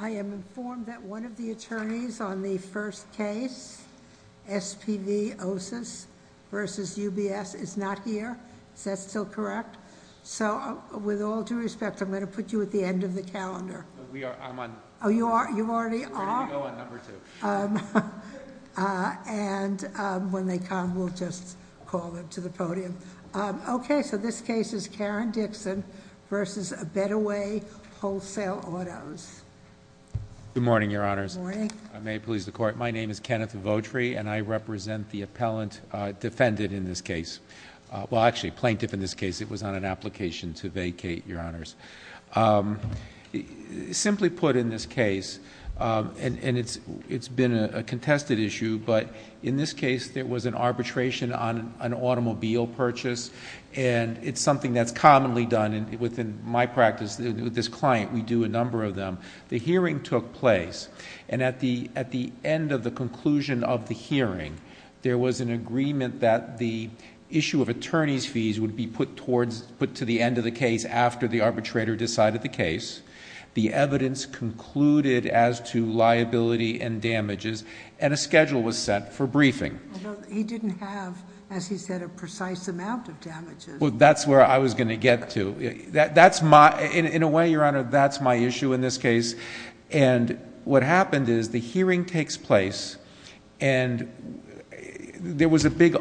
I am informed that one of the attorneys on the first case, S.P.V. Osis v. U.B.S. is not here. Is that still correct? So, with all due respect, I'm going to put you at the end of the calendar. We are. I'm on. Oh, you already are? We're going to go on number two. And when they come, we'll just call them to the podium. Okay, so this case is Karen Dixon v. A Better Way Wholesale Autos. Good morning, Your Honors. Good morning. If I may please the Court, my name is Kenneth Votri, and I represent the appellant defendant in this case. Well, actually, plaintiff in this case. It was on an application to vacate, Your Honors. Simply put in this case, and it's been a contested issue, but in this case, there was an arbitration on an automobile purchase, and it's something that's commonly done within my practice with this client. We do a number of them. The hearing took place, and at the end of the conclusion of the hearing, there was an agreement that the issue of attorney's fees would be put to the end of the case after the arbitrator decided the case. The evidence concluded as to liability and damages, and a schedule was set for briefing. Although he didn't have, as he said, a precise amount of damages. Well, that's where I was going to get to. In a way, Your Honor, that's my issue in this case. What happened is the hearing takes place, and there was a big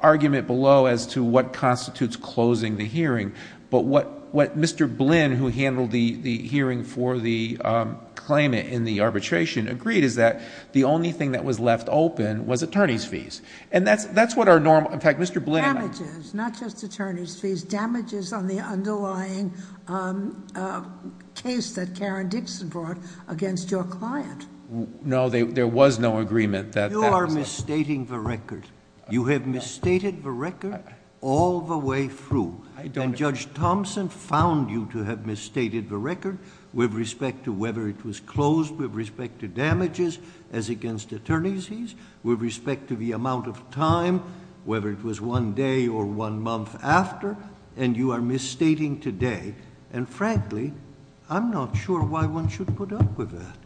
argument below as to what constitutes closing the hearing, but what Mr. Blinn, who handled the hearing for the claimant in the arbitration, agreed is that the only thing that was left open was attorney's fees. That's what our normal... against your client. No, there was no agreement that... You are misstating the record. You have misstated the record all the way through, and Judge Thompson found you to have misstated the record with respect to whether it was closed, with respect to damages as against attorney's fees, with respect to the amount of time, whether it was one day or one month after, and you are misstating today. Frankly, I'm not sure why one should put up with that.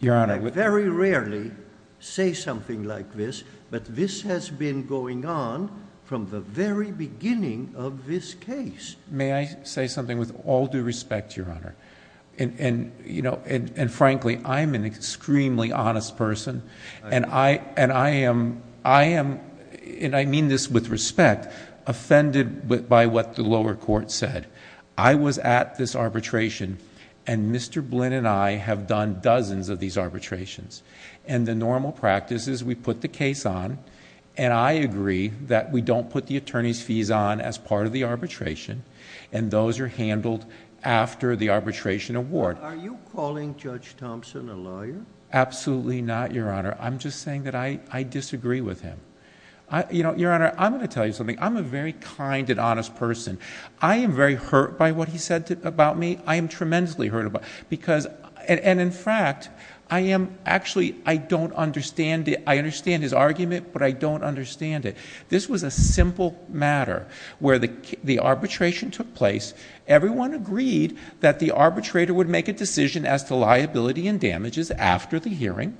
Your Honor... I very rarely say something like this, but this has been going on from the very beginning of this case. May I say something with all due respect, Your Honor? Frankly, I'm an extremely honest person, and I am, and I mean this with respect, offended by what the lower court said. I was at this arbitration, and Mr. Blinn and I have done dozens of these arbitrations, and the normal practice is we put the case on, and I agree that we don't put the attorney's fees on as part of the arbitration, and those are handled after the arbitration award. Are you calling Judge Thompson a lawyer? Absolutely not, Your Honor. I'm just saying that I disagree with him. Your Honor, I'm going to tell you something. I'm a very kind and honest person. I am very hurt by what he said about me. I am tremendously hurt about it, and in fact, I am actually... I don't understand it. I understand his argument, but I don't understand it. This was a simple matter where the arbitration took place. Everyone agreed that the arbitrator would make a decision as to liability and damages after the hearing,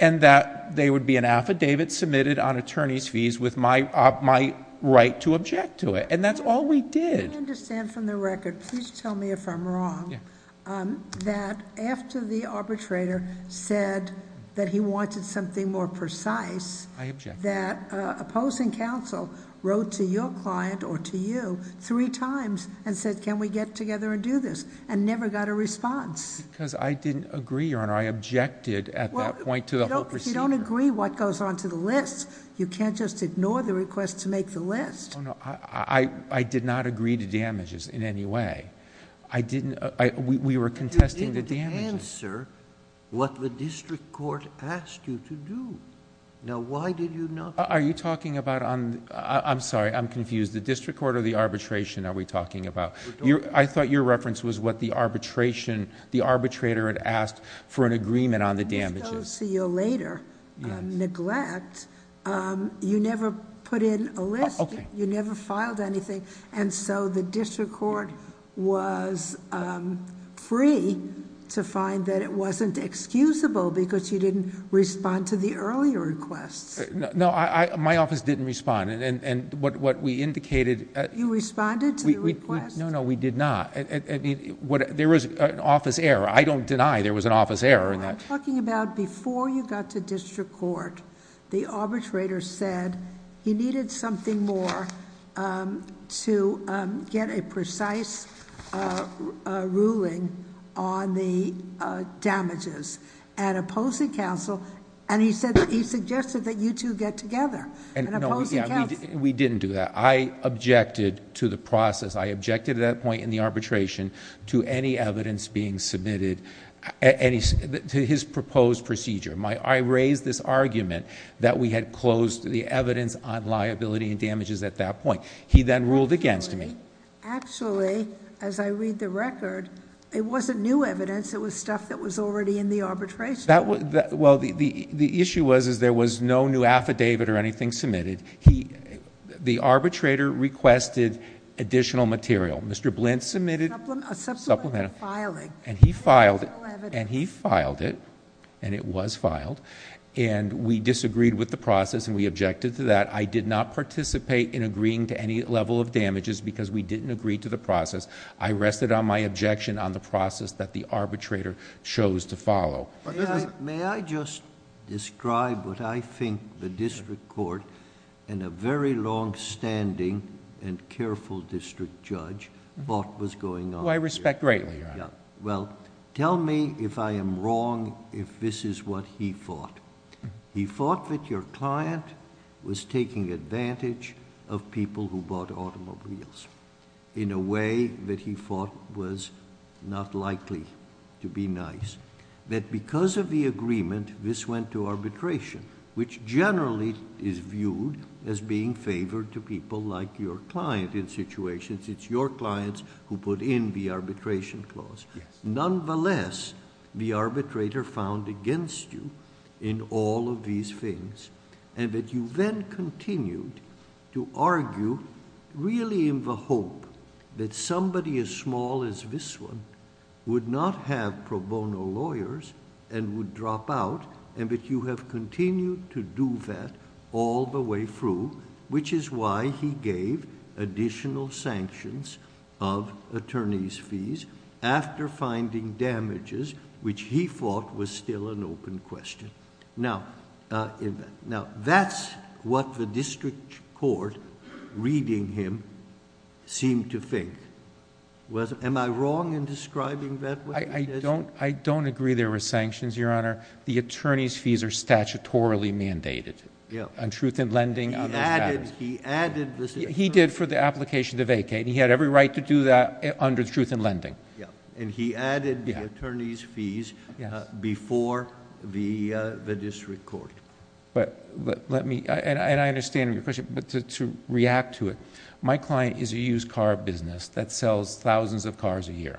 and that there would be an affidavit submitted on attorney's fees with my right to object to it, and that's all we did. I understand from the record, please tell me if I'm wrong, that after the arbitrator said that he wanted something more precise... I object.... that opposing counsel wrote to your client or to you three times and said, can we get together and do this, and never got a response. Because I didn't agree, Your Honor. I objected at that point to the whole procedure. You don't agree what goes onto the list. You can't just ignore the request to make the list. Oh, no. I did not agree to damages in any way. I didn't... we were contesting the damages. But you didn't answer what the district court asked you to do. Now, why did you not... Are you talking about... I'm sorry, I'm confused. The district court or the arbitration are we talking about? I thought your reference was what the arbitrator had asked for an agreement on the damages.... neglect, you never put in a list. You never filed anything, and so the district court was free to find that it wasn't excusable because you didn't respond to the earlier requests. No, my office didn't respond, and what we indicated... You responded to the request? No, no, we did not. There was an office error. I don't deny there was an office error in that. You're talking about before you got to district court, the arbitrator said he needed something more to get a precise ruling on the damages, and opposing counsel, and he said... he suggested that you two get together, and opposing counsel... No, we didn't do that. I objected to the process. I objected at that point in the arbitration to any evidence being submitted... to his proposed procedure. I raised this argument that we had closed the evidence on liability and damages at that point. He then ruled against me. Actually, as I read the record, it wasn't new evidence. It was stuff that was already in the arbitration. Well, the issue was there was no new affidavit or anything submitted. The arbitrator requested additional material. Mr. Blint submitted... A supplementary filing. He filed it, and he filed it, and it was filed. We disagreed with the process, and we objected to that. I did not participate in agreeing to any level of damages because we didn't agree to the process. I rested on my objection on the process that the arbitrator chose to follow. May I just describe what I think the district court and a very longstanding and careful district judge thought was going on? Who I respect greatly, Your Honor. Well, tell me if I am wrong if this is what he thought. He thought that your client was taking advantage of people who bought automobiles in a way that he thought was not likely to be nice. That because of the agreement, this went to arbitration, which generally is viewed as being favored to people like your client in situations. It's your clients who put in the arbitration clause. Nonetheless, the arbitrator found against you in all of these things. You then continued to argue really in the hope that somebody as small as this one would not have pro bono lawyers and would drop out, and that you have continued to do that all the way through, which is why he gave additional sanctions of attorney's fees after finding damages, which he thought was still an open question. Now, that's what the district court, reading him, seemed to think. Am I wrong in describing that? I don't agree there were sanctions, Your Honor. The attorney's fees are statutorily mandated on truth in lending. He added this. He did for the application to vacate, and he had every right to do that under truth in lending. He added the attorney's fees before the district court. I understand your question, but to react to it, my client is a used car business that sells thousands of cars a year.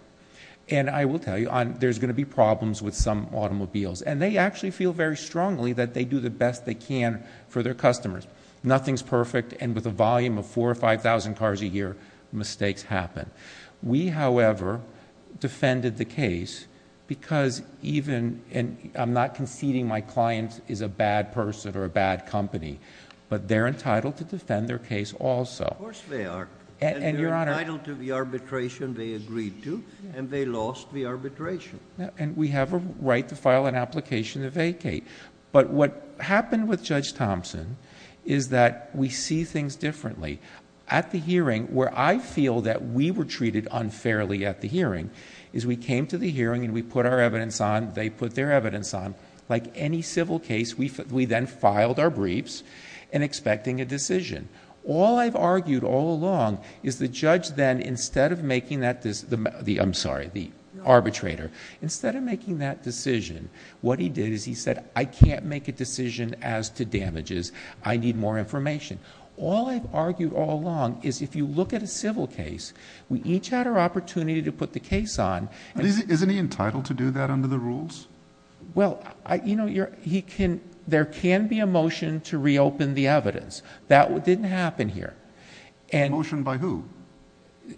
I will tell you, there's going to be problems with some automobiles. They actually feel very strongly that they do the best they can for their customers. Nothing's perfect, and with a volume of four or five thousand cars a year, mistakes happen. We, however, defended the case because even... I'm not conceding my client is a bad person or a bad company, but they're entitled to defend their case also. Of course they are. They're entitled to the arbitration they agreed to, and they lost the arbitration. We have a right to file an application to vacate, but what happened with Judge Thompson is that we see things differently. At the hearing, where I feel that we were treated unfairly at the hearing, is we came to the hearing and we put our evidence on. They put their evidence on. Like any civil case, we then filed our briefs and expecting a decision. All I've argued all along is the judge then, instead of making that... I'm sorry, the arbitrator. Instead of making that decision, what he did is he said, I can't make a decision as to damages. I need more information. All I've argued all along is if you look at a civil case, we each had our opportunity to put the case on. Isn't he entitled to do that under the rules? Well, there can be a motion to reopen the evidence. That didn't happen here. A motion by who?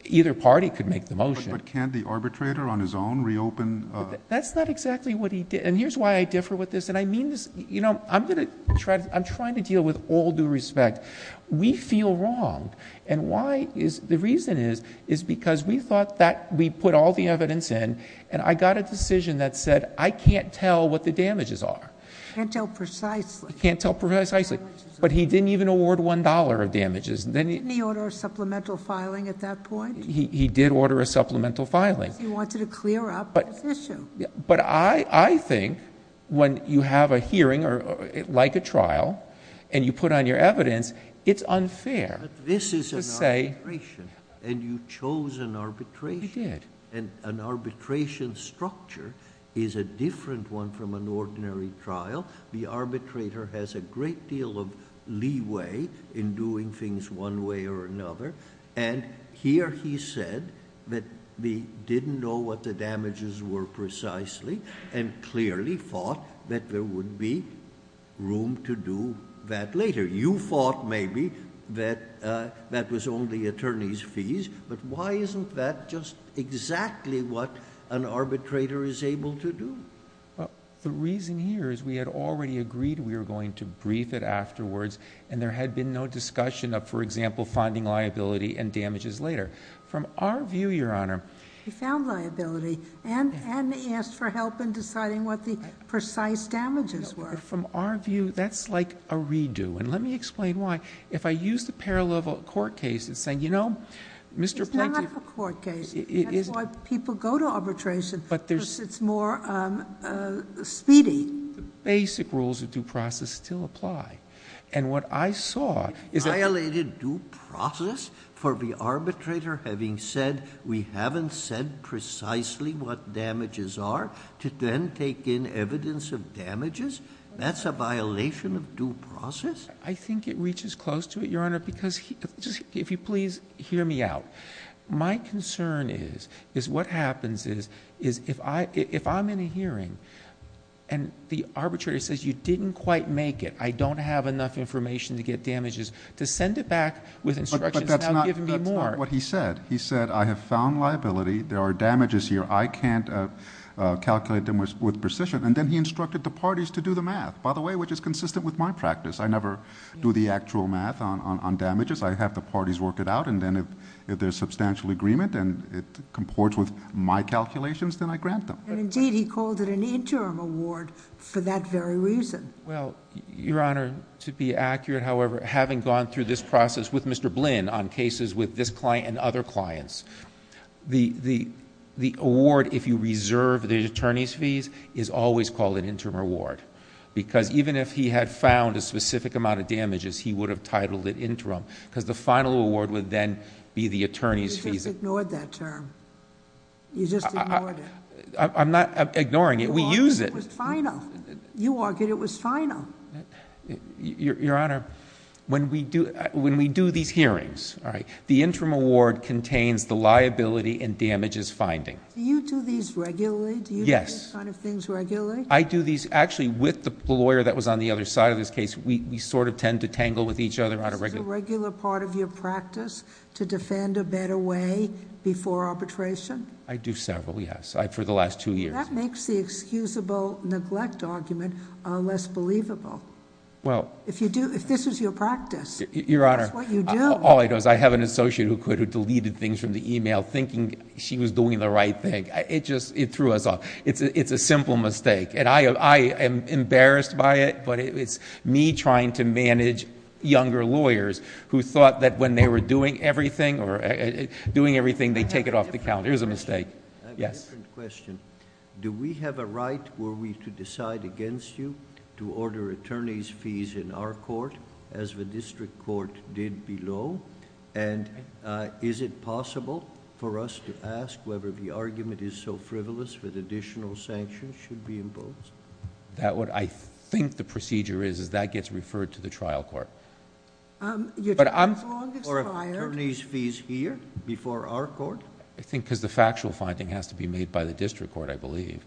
Either party could make the motion. But can't the arbitrator on his own reopen... That's not exactly what he did, and here's why I differ with this. I'm trying to deal with all due respect. We feel wrong. The reason is, is because we thought that we put all the evidence in, and I got a decision that said, I can't tell what the damages are. Can't tell precisely. Can't tell precisely. But he didn't even award $1 of damages. Didn't he order a supplemental filing at that point? He did order a supplemental filing. Because he wanted to clear up his issue. But I think when you have a hearing, like a trial, and you put on your evidence, it's unfair to say... But this is an arbitration, and you chose an arbitration. You did. An arbitration structure is a different one from an ordinary trial. The arbitrator has a great deal of leeway in doing things one way or another. And here he said that he didn't know what the damages were precisely, and clearly thought that there would be room to do that later. You thought, maybe, that that was only attorney's fees. But why isn't that just exactly what an arbitrator is able to do? The reason here is we had already agreed we were going to brief it afterwards. And there had been no discussion of, for example, finding liability and damages later. From our view, Your Honor... He found liability and asked for help in deciding what the precise damages were. From our view, that's like a redo. And let me explain why. If I use the parallel of a court case and say, you know, Mr. Plaintiff... It's not a court case. That's why people go to arbitration. But there's... Because it's more speedy. Basic rules of due process still apply. And what I saw is that... Violated due process? For the arbitrator having said, we haven't said precisely what damages are, to then take in evidence of damages? That's a violation of due process? I think it reaches close to it, Your Honor, because... If you please hear me out. My concern is... Is what happens is... Is if I... If I'm in a hearing and the arbitrator says, you didn't quite make it. I don't have enough information to get damages. To send it back with instructions... But that's not what he said. He said, I have found liability. There are damages here. I can't calculate them with precision. And then he instructed the parties to do the math. By the way, which is consistent with my practice. I never do the actual math on damages. I have the parties work it out. And then if there's substantial agreement and it comports with my calculations, then I grant them. And indeed, he called it an interim award for that very reason. Well, Your Honor, to be accurate, however... Having gone through this process with Mr. Blinn on cases with this client and other clients... The award, if you reserve the attorney's fees, is always called an interim award. Because even if he had found a specific amount of damages, he would have titled it interim. Because the final award would then be the attorney's fees. You just ignored that term. You just ignored it. I'm not ignoring it. We use it. You argued it was final. You argued it was final. Your Honor, when we do these hearings, the interim award contains the liability and damages finding. Do you do these regularly? Yes. Do you do these kind of things regularly? I do these... Actually, with the lawyer that was on the other side of this case, we sort of tend to tangle with each other on a regular... Is this a regular part of your practice to defend a better way before arbitration? I do several, yes. For the last two years. That makes the excusable neglect argument less believable. Well... If this was your practice... Your Honor...... that's what you do. All I know is I have an associate who could have deleted things from the e-mail, thinking she was doing the right thing. It just threw us off. It's a simple mistake. I am embarrassed by it, but it's me trying to manage younger lawyers who thought that when they were doing everything, they take it off the calendar. It was a mistake. Yes. I have a different question. Do we have a right, were we to decide against you, to order attorney's fees in our court, as the district court did below? Is it possible for us to ask whether the argument is so frivolous that additional sanctions should be imposed? What I think the procedure is, is that gets referred to the trial court. Your trial court is required... Or attorney's fees here, before our court? I think because the factual finding has to be made by the district court, I believe.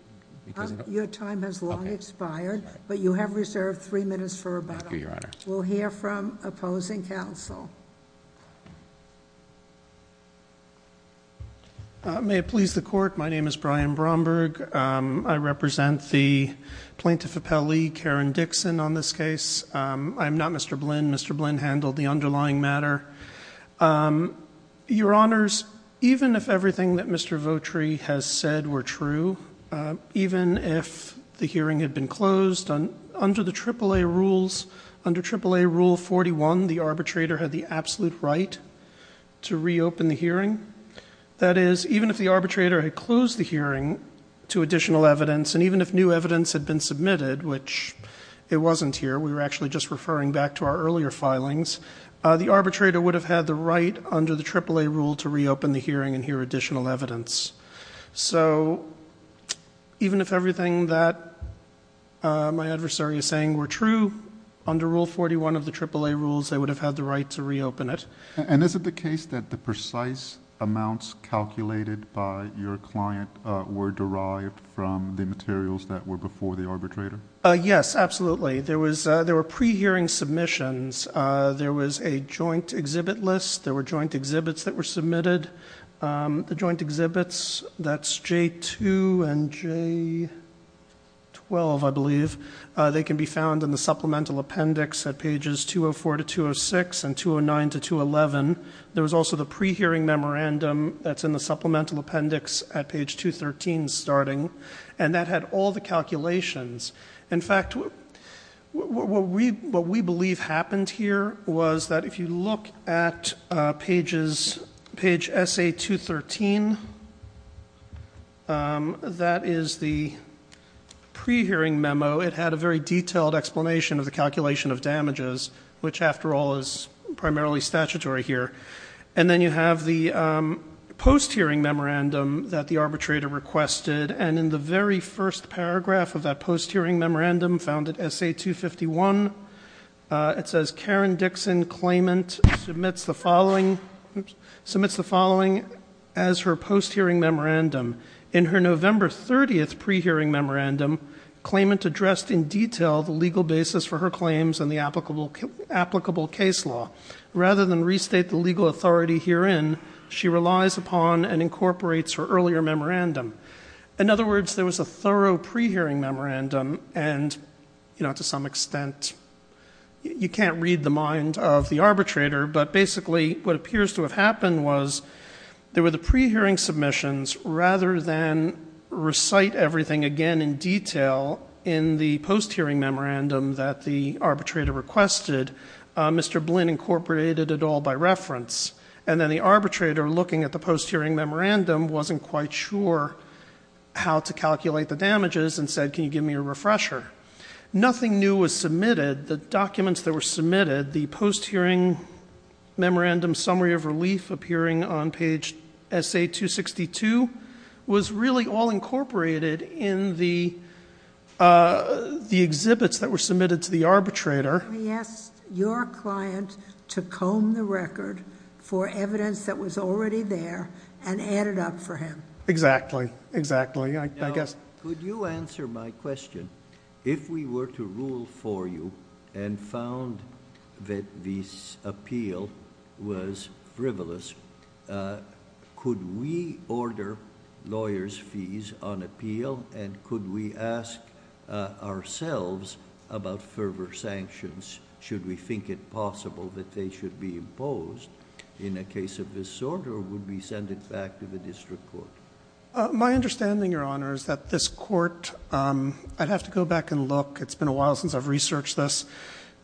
Your time has long expired, but you have reserved three minutes for rebuttal. Thank you, Your Honor. We'll hear from opposing counsel. May it please the Court, my name is Brian Bromberg. I represent the Plaintiff Appellee, Karen Dixon, on this case. I am not Mr. Blynn. Mr. Blynn handled the underlying matter. Your Honors, even if everything that Mr. Votri has said were true, even if the hearing had been closed under the AAA rules, under AAA rule 41, the arbitrator had the absolute right to reopen the hearing. That is, even if the arbitrator had closed the hearing to additional evidence, and even if new evidence had been submitted, which it wasn't here, we were actually just referring back to our earlier filings, the arbitrator would have had the right under the AAA rule to reopen the hearing and hear additional evidence. So even if everything that my adversary is saying were true, under Rule 41 of the AAA rules, they would have had the right to reopen it. And is it the case that the precise amounts calculated by your client were derived from the materials that were before the arbitrator? Yes, absolutely. There were pre-hearing submissions. There was a joint exhibit list. There were joint exhibits that were submitted. The joint exhibits, that's J2 and J12, I believe. They can be found in the supplemental appendix at pages 204 to 206 and 209 to 211. There was also the pre-hearing memorandum that's in the supplemental appendix at page 213 starting. And that had all the calculations. In fact, what we believe happened here was that if you look at page SA213, that is the pre-hearing memo. It had a very detailed explanation of the calculation of damages, which, after all, is primarily statutory here. And then you have the post-hearing memorandum that the arbitrator requested. And in the very first paragraph of that post-hearing memorandum found at SA251, it says, Karen Dixon Claimant submits the following as her post-hearing memorandum. In her November 30th pre-hearing memorandum, Claimant addressed in detail the legal basis for her claims and the applicable case law. Rather than restate the legal authority herein, she relies upon and incorporates her earlier memorandum. In other words, there was a thorough pre-hearing memorandum. And to some extent, you can't read the mind of the arbitrator, but basically what appears to have happened was there were the pre-hearing submissions. Rather than recite everything again in detail in the post-hearing memorandum that the arbitrator requested, Mr. Blinn incorporated it all by reference. And then the arbitrator, looking at the post-hearing memorandum, wasn't quite sure how to calculate the damages and said, can you give me a refresher? Nothing new was submitted. The documents that were submitted, the post-hearing memorandum summary of relief appearing on page SA262 was really all incorporated in the exhibits that were submitted to the arbitrator. He asked your client to comb the record for evidence that was already there and added up for him. Exactly, exactly, I guess. Now, could you answer my question? If we were to rule for you and found that this appeal was frivolous, could we order lawyers' fees on appeal and could we ask ourselves about fervor sanctions? Should we think it possible that they should be imposed in a case of this sort or would we send it back to the district court? My understanding, Your Honor, is that this court, I'd have to go back and look. It's been a while since I've researched this.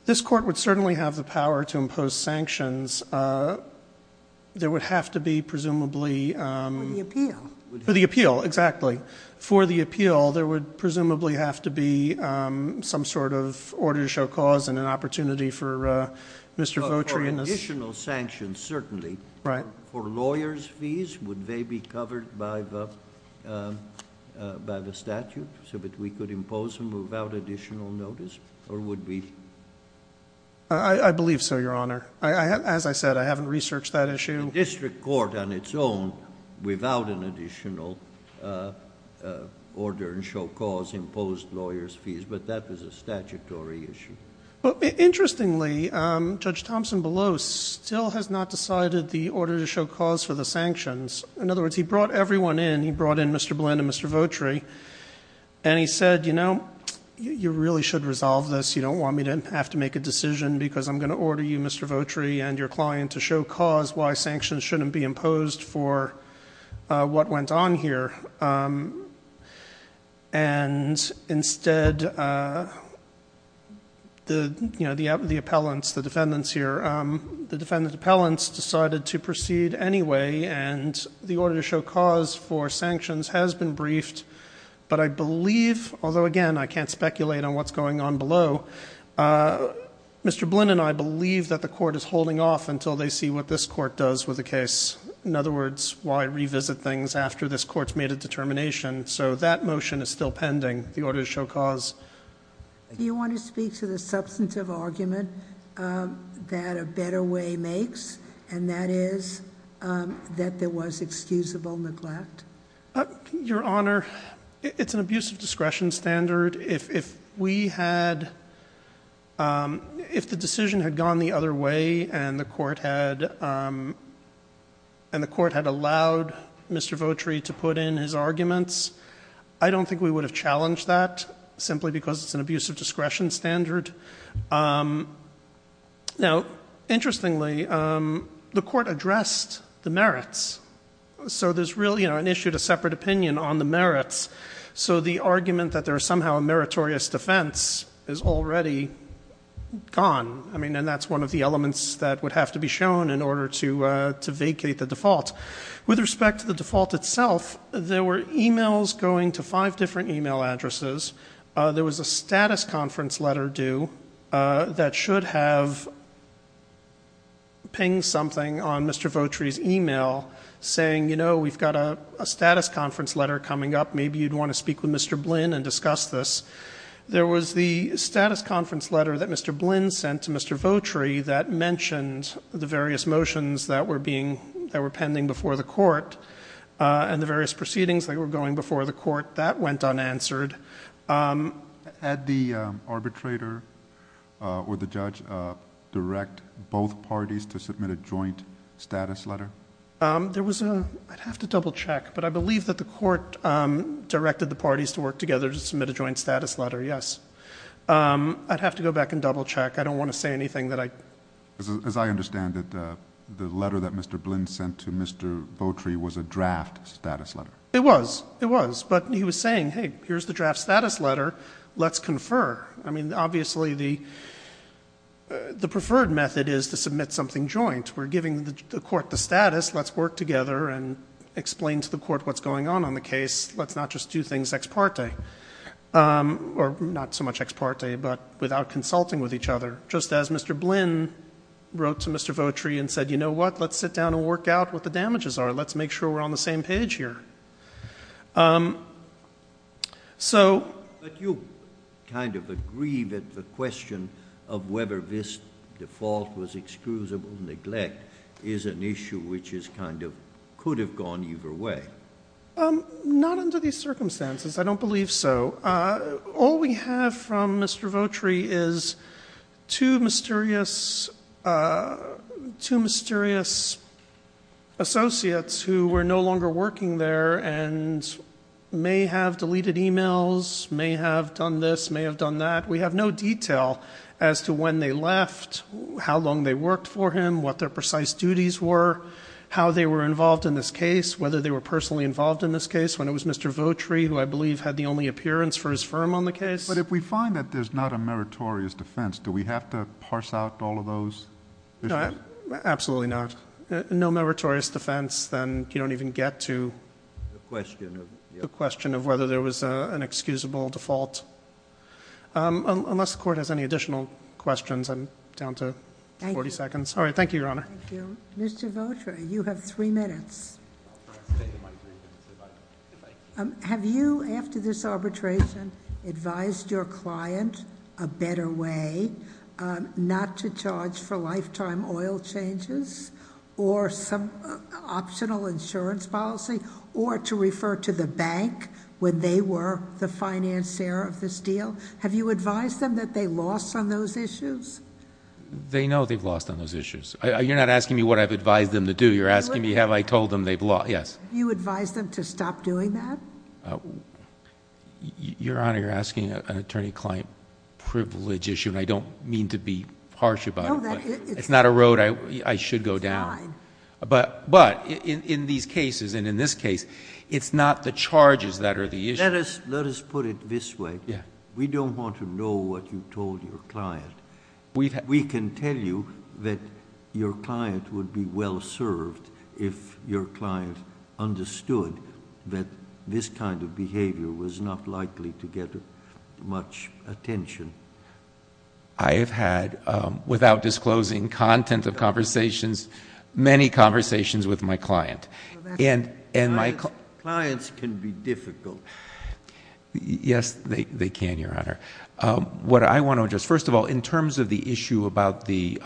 This court would certainly have the power to impose sanctions. There would have to be, presumably. For the appeal. For the appeal, exactly. For the appeal, there would presumably have to be some sort of order to show cause and an opportunity for Mr. Votri and us. For additional sanctions, certainly. Right. For lawyers' fees, would they be covered by the statute so that we could impose them without additional notice or would we? I believe so, Your Honor. As I said, I haven't researched that issue. The district court on its own, without an additional order to show cause, imposed lawyers' fees, but that was a statutory issue. Interestingly, Judge Thompson-Below still has not decided the order to show cause for the sanctions. In other words, he brought everyone in. He brought in Mr. Blinn and Mr. Votri and he said, you know, you really should resolve this. You don't want me to have to make a decision because I'm going to order you, Mr. Votri, and your client to show cause why sanctions shouldn't be imposed for what went on here. And instead, you know, the appellants, the defendants here, the defendant appellants decided to proceed anyway and the order to show cause for sanctions has been briefed. But I believe, although again, I can't speculate on what's going on below, Mr. Blinn and I believe that the court is holding off until they see what this court does with the case. In other words, why revisit things after this court's made a determination. So that motion is still pending, the order to show cause. Do you want to speak to the substantive argument that a better way makes, and that is that there was excusable neglect? Your Honor, it's an abuse of discretion standard. If we had, if the decision had gone the other way and the court had, and the court had allowed Mr. Votri to put in his arguments, I don't think we would have challenged that simply because it's an abuse of discretion standard. Now, interestingly, the court addressed the merits. So there's really, you know, an issue to separate opinion on the merits. So the argument that there is somehow a meritorious defense is already gone. I mean, and that's one of the elements that would have to be shown in order to vacate the default. With respect to the default itself, there were emails going to five different email addresses. There was a status conference letter due that should have pinged something on Mr. Votri's email saying, you know, we've got a status conference letter coming up. Maybe you'd want to speak with Mr. Blinn and discuss this. There was the status conference letter that Mr. Blinn sent to Mr. Votri that mentioned the various motions that were being, that were pending before the court and the various proceedings that were going before the court. That went unanswered. Had the arbitrator or the judge direct both parties to submit a joint status letter? There was a, I'd have to double check, but I believe that the court directed the parties to work together to submit a joint status letter, yes. I'd have to go back and double check. I don't want to say anything that I. As I understand it, the letter that Mr. Blinn sent to Mr. Votri was a draft status letter. It was. It was. But he was saying, hey, here's the draft status letter. Let's confer. I mean, obviously, the preferred method is to submit something joint. We're giving the court the status. Let's work together and explain to the court what's going on on the case. Let's not just do things ex parte. Or not so much ex parte, but without consulting with each other. Just as Mr. Blinn wrote to Mr. Votri and said, you know what, let's sit down and work out what the damages are. Let's make sure we're on the same page here. So. But you kind of agree that the question of whether this default was excusable neglect is an issue which is kind of could have gone either way. Not under these circumstances. I don't believe so. All we have from Mr. Votri is two mysterious associates who were no longer working there and may have deleted e-mails, may have done this, may have done that. We have no detail as to when they left, how long they worked for him, what their precise duties were, how they were involved in this case, whether they were personally involved in this case when it was Mr. Votri who I believe had the only appearance for his firm on the case. But if we find that there's not a meritorious defense, do we have to parse out all of those? Absolutely not. No meritorious defense. Then you don't even get to the question of whether there was an excusable default. Unless the court has any additional questions, I'm down to 40 seconds. All right. Thank you, Your Honor. Thank you. Mr. Votri, you have three minutes. Have you, after this arbitration, advised your client a better way not to charge for lifetime oil changes or some optional insurance policy, or to refer to the bank when they were the financier of this deal? Have you advised them that they lost on those issues? They know they've lost on those issues. You're not asking me what I've advised them to do. You're asking me have I told them they've lost. Yes. Have you advised them to stop doing that? Your Honor, you're asking an attorney-client privilege issue, and I don't mean to be harsh about it. It's not a road I should go down. But in these cases, and in this case, it's not the charges that are the issue. Let us put it this way. We don't want to know what you told your client. We can tell you that your client would be well served if your client understood that this kind of behavior was not likely to get much attention. I have had, without disclosing content of conversations, many conversations with my client. Clients can be difficult. Yes, they can, Your Honor. What I want to address, first of all, in terms of the issue about the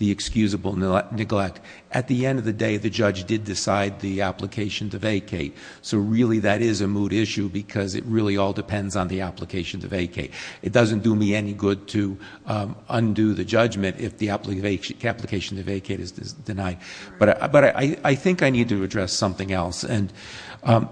excusable neglect, at the end of the day, the judge did decide the application to vacate. So really that is a mood issue because it really all depends on the application to vacate. It doesn't do me any good to undo the judgment if the application to vacate is denied. But I think I need to address something else.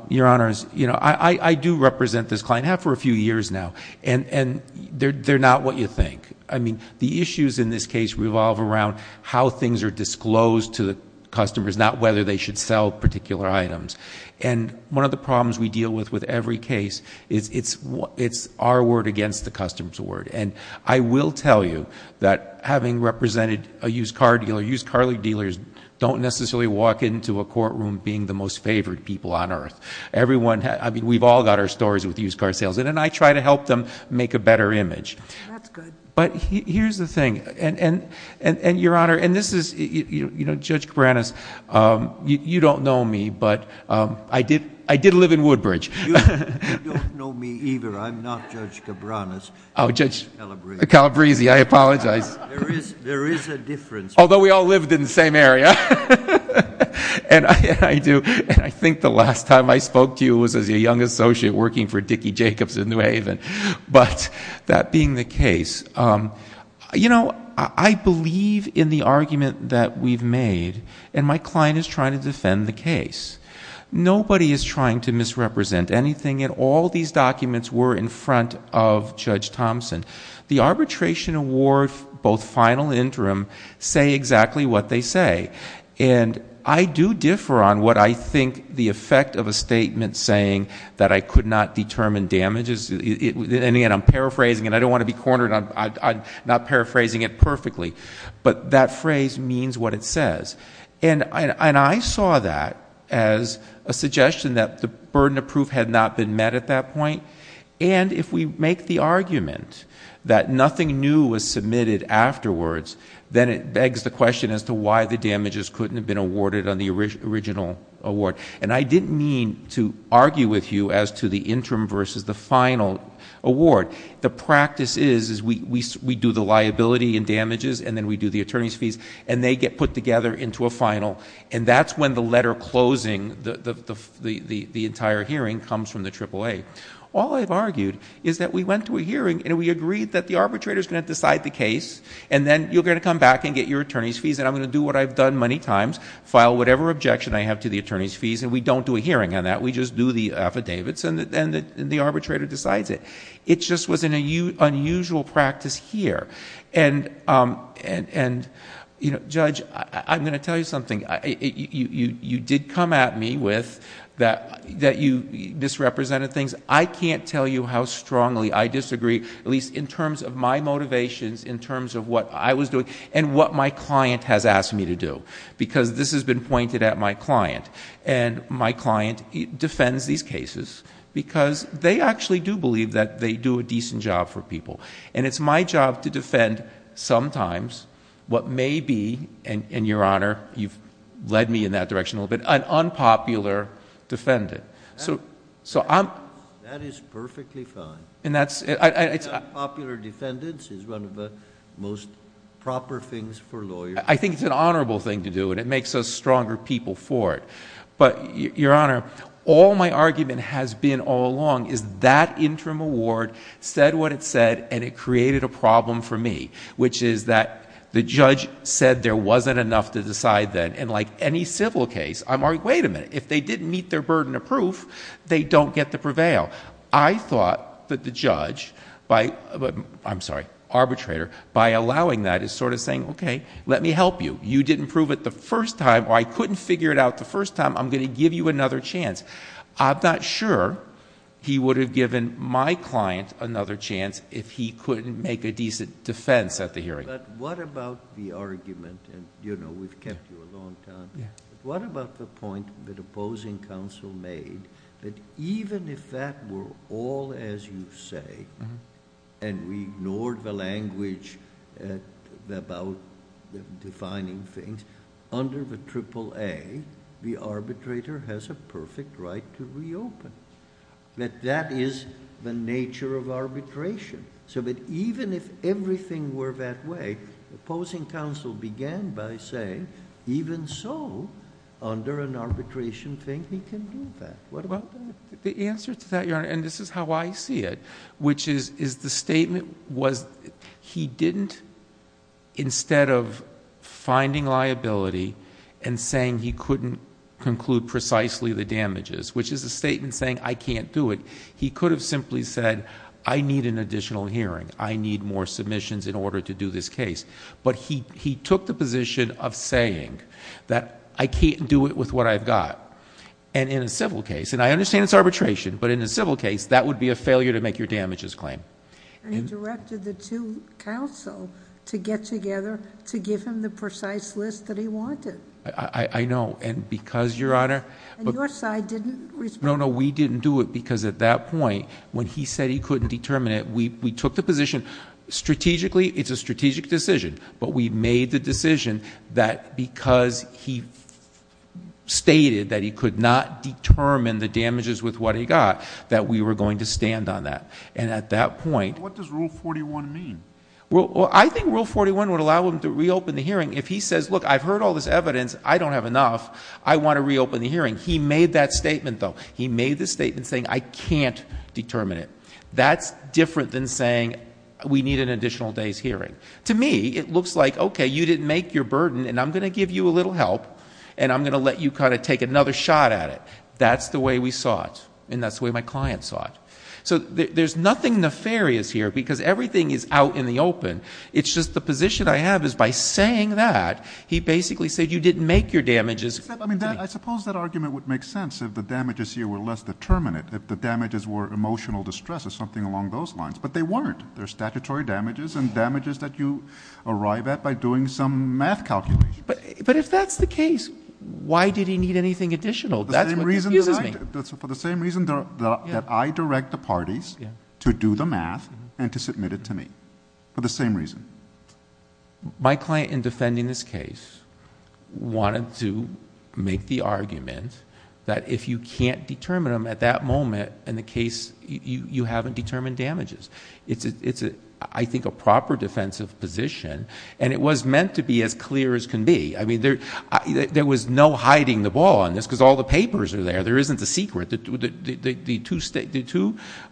Your Honor, I do represent this client. I have for a few years now. They're not what you think. The issues in this case revolve around how things are disclosed to the customers, not whether they should sell particular items. One of the problems we deal with with every case is it's our word against the customer's word. I will tell you that having represented a used car dealer, used car dealers don't necessarily walk into a courtroom being the most favored people on earth. We've all got our stories with used car sales, and I try to help them make a better image. That's good. But here's the thing. Your Honor, and this is Judge Cabranes. You don't know me, but I did live in Woodbridge. You don't know me either. I'm not Judge Cabranes. I'm Judge Calabrese. Calabrese. I apologize. There is a difference. Although we all lived in the same area, and I do, and I think the last time I spoke to you was as a young associate working for Dickey Jacobs in New Haven. But that being the case, you know, I believe in the argument that we've made, and my client is trying to defend the case. Nobody is trying to misrepresent anything, and all these documents were in front of Judge Thompson. The arbitration award, both final and interim, say exactly what they say. And I do differ on what I think the effect of a statement saying that I could not determine damage is. And, again, I'm paraphrasing, and I don't want to be cornered on not paraphrasing it perfectly. But that phrase means what it says. And I saw that as a suggestion that the burden of proof had not been met at that point. And if we make the argument that nothing new was submitted afterwards, then it begs the question as to why the damages couldn't have been awarded on the original award. And I didn't mean to argue with you as to the interim versus the final award. The practice is we do the liability and damages, and then we do the attorney's fees, and they get put together into a final, and that's when the letter closing, the entire hearing, comes from the AAA. All I've argued is that we went to a hearing, and we agreed that the arbitrator is going to decide the case, and then you're going to come back and get your attorney's fees, and I'm going to do what I've done many times, file whatever objection I have to the attorney's fees, and we don't do a hearing on that. We just do the affidavits, and the arbitrator decides it. It just was an unusual practice here. And, Judge, I'm going to tell you something. You did come at me with that you misrepresented things. I can't tell you how strongly I disagree, at least in terms of my motivations, in terms of what I was doing, and what my client has asked me to do, because this has been pointed at my client, and my client defends these cases because they actually do believe that they do a decent job for people, and it's my job to defend sometimes what may be, and, Your Honor, you've led me in that direction a little bit, an unpopular defendant. That is perfectly fine. Unpopular defendants is one of the most proper things for lawyers. I think it's an honorable thing to do, and it makes us stronger people for it, but, Your Honor, all my argument has been all along is that interim award said what it said, and it created a problem for me, which is that the judge said there wasn't enough to decide then, and like any civil case, I'm like, wait a minute. If they didn't meet their burden of proof, they don't get to prevail. I thought that the judge, I'm sorry, arbitrator, by allowing that is sort of saying, okay, let me help you. You didn't prove it the first time, or I couldn't figure it out the first time. I'm going to give you another chance. I'm not sure he would have given my client another chance if he couldn't make a decent defense at the hearing. But what about the argument, and, you know, we've kept you a long time. What about the point that opposing counsel made that even if that were all as you say, and we ignored the language about defining things, under the AAA, the arbitrator has a perfect right to reopen, that that is the nature of arbitration, so that even if everything were that way, opposing counsel began by saying even so, under an arbitration thing, he can do that. What about that? The answer to that, Your Honor, and this is how I see it, which is the statement was he didn't, instead of finding liability and saying he couldn't conclude precisely the damages, which is a statement saying I can't do it, he could have simply said I need an additional hearing. I need more submissions in order to do this case. But he took the position of saying that I can't do it with what I've got. And in a civil case, and I understand it's arbitration, but in a civil case, that would be a failure to make your damages claim. And he directed the two counsel to get together to give him the precise list that he wanted. I know, and because, Your Honor. And your side didn't respond. No, no, we didn't do it because at that point, when he said he couldn't determine it, we took the position strategically, it's a strategic decision, but we made the decision that because he stated that he could not determine the damages with what he got, that we were going to stand on that. And at that point. What does Rule 41 mean? Well, I think Rule 41 would allow him to reopen the hearing if he says, look, I've heard all this evidence. I don't have enough. I want to reopen the hearing. He made that statement, though. He made the statement saying I can't determine it. That's different than saying we need an additional day's hearing. To me, it looks like, okay, you didn't make your burden, and I'm going to give you a little help, and I'm going to let you kind of take another shot at it. That's the way we saw it, and that's the way my client saw it. So there's nothing nefarious here because everything is out in the open. It's just the position I have is by saying that, he basically said you didn't make your damages. I suppose that argument would make sense if the damages here were less determinate, if the damages were emotional distress or something along those lines. But they weren't. They're statutory damages and damages that you arrive at by doing some math calculations. But if that's the case, why did he need anything additional? That's what confuses me. For the same reason that I direct the parties to do the math and to submit it to me, for the same reason. My client in defending this case wanted to make the argument that if you can't determine them at that moment, in the case, you haven't determined damages. It's, I think, a proper defensive position, and it was meant to be as clear as can be. I mean, there was no hiding the ball on this because all the papers are there. There isn't a secret.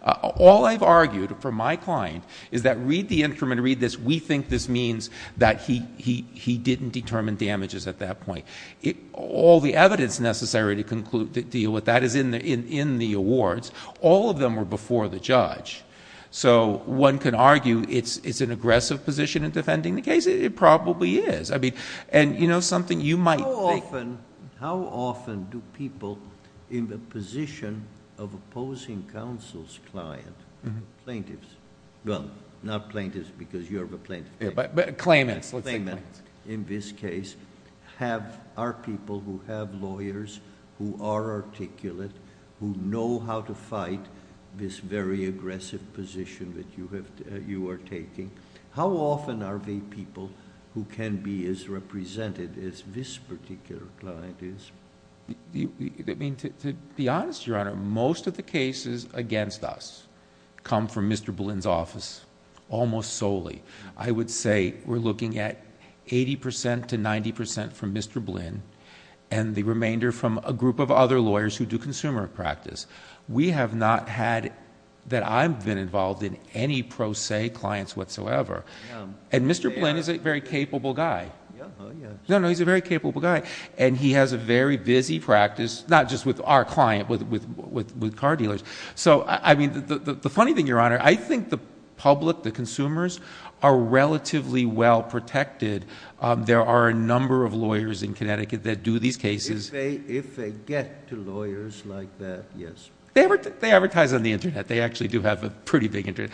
All I've argued for my client is that read the instrument, read this. We think this means that he didn't determine damages at that point. All the evidence necessary to deal with that is in the awards. All of them were before the judge. One can argue it's an aggressive position in defending the case. It probably is. You know something? You might think... How often do people in the position of opposing counsel's client, plaintiffs... Well, not plaintiffs because you're a plaintiff. Claimants. Let's say claimants.... in this case, are people who have lawyers, who are articulate, who know how to fight this very aggressive position that you are taking. How often are they people who can be as represented as this particular client is? I mean, to be honest, Your Honor, most of the cases against us come from Mr. Boleyn's office, almost solely. I would say we're looking at 80% to 90% from Mr. Boleyn and the remainder from a group of other lawyers who do consumer practice. We have not had... that I've been involved in any pro se clients whatsoever. Mr. Boleyn is a very capable guy. No, no, he's a very capable guy. He has a very busy practice, not just with our client, but with car dealers. The funny thing, Your Honor, I think the public, the consumers, are relatively well protected. There are a number of lawyers in Connecticut that do these cases... If they get to lawyers like that, yes. They advertise on the internet. They actually do have a pretty big internet.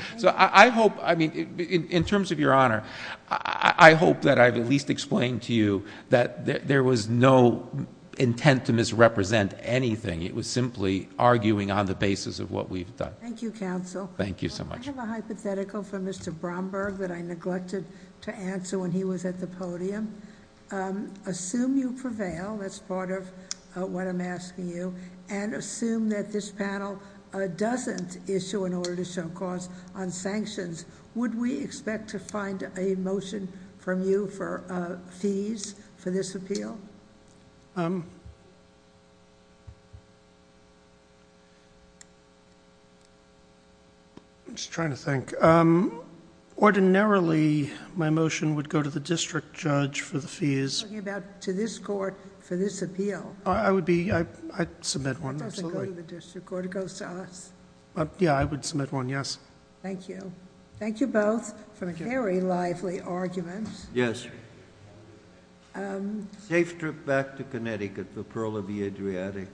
In terms of Your Honor, I hope that I've at least explained to you that there was no intent to misrepresent anything. It was simply arguing on the basis of what we've done. Thank you, counsel. Thank you so much. I have a hypothetical for Mr. Bromberg that I neglected to answer when he was at the podium. Assume you prevail. That's part of what I'm asking you. Assume that this panel doesn't issue an order to show cause on sanctions. Would we expect to find a motion from you for fees for this appeal? I'm just trying to think. Ordinarily, my motion would go to the district judge for the fees. You're talking about to this court for this appeal. I submit one, absolutely. It doesn't go to the district court. It goes to us. Yeah, I would submit one, yes. Thank you. Thank you both for a very lively argument. Yes. Safe trip back to Connecticut, the Pearl of the Adriatic.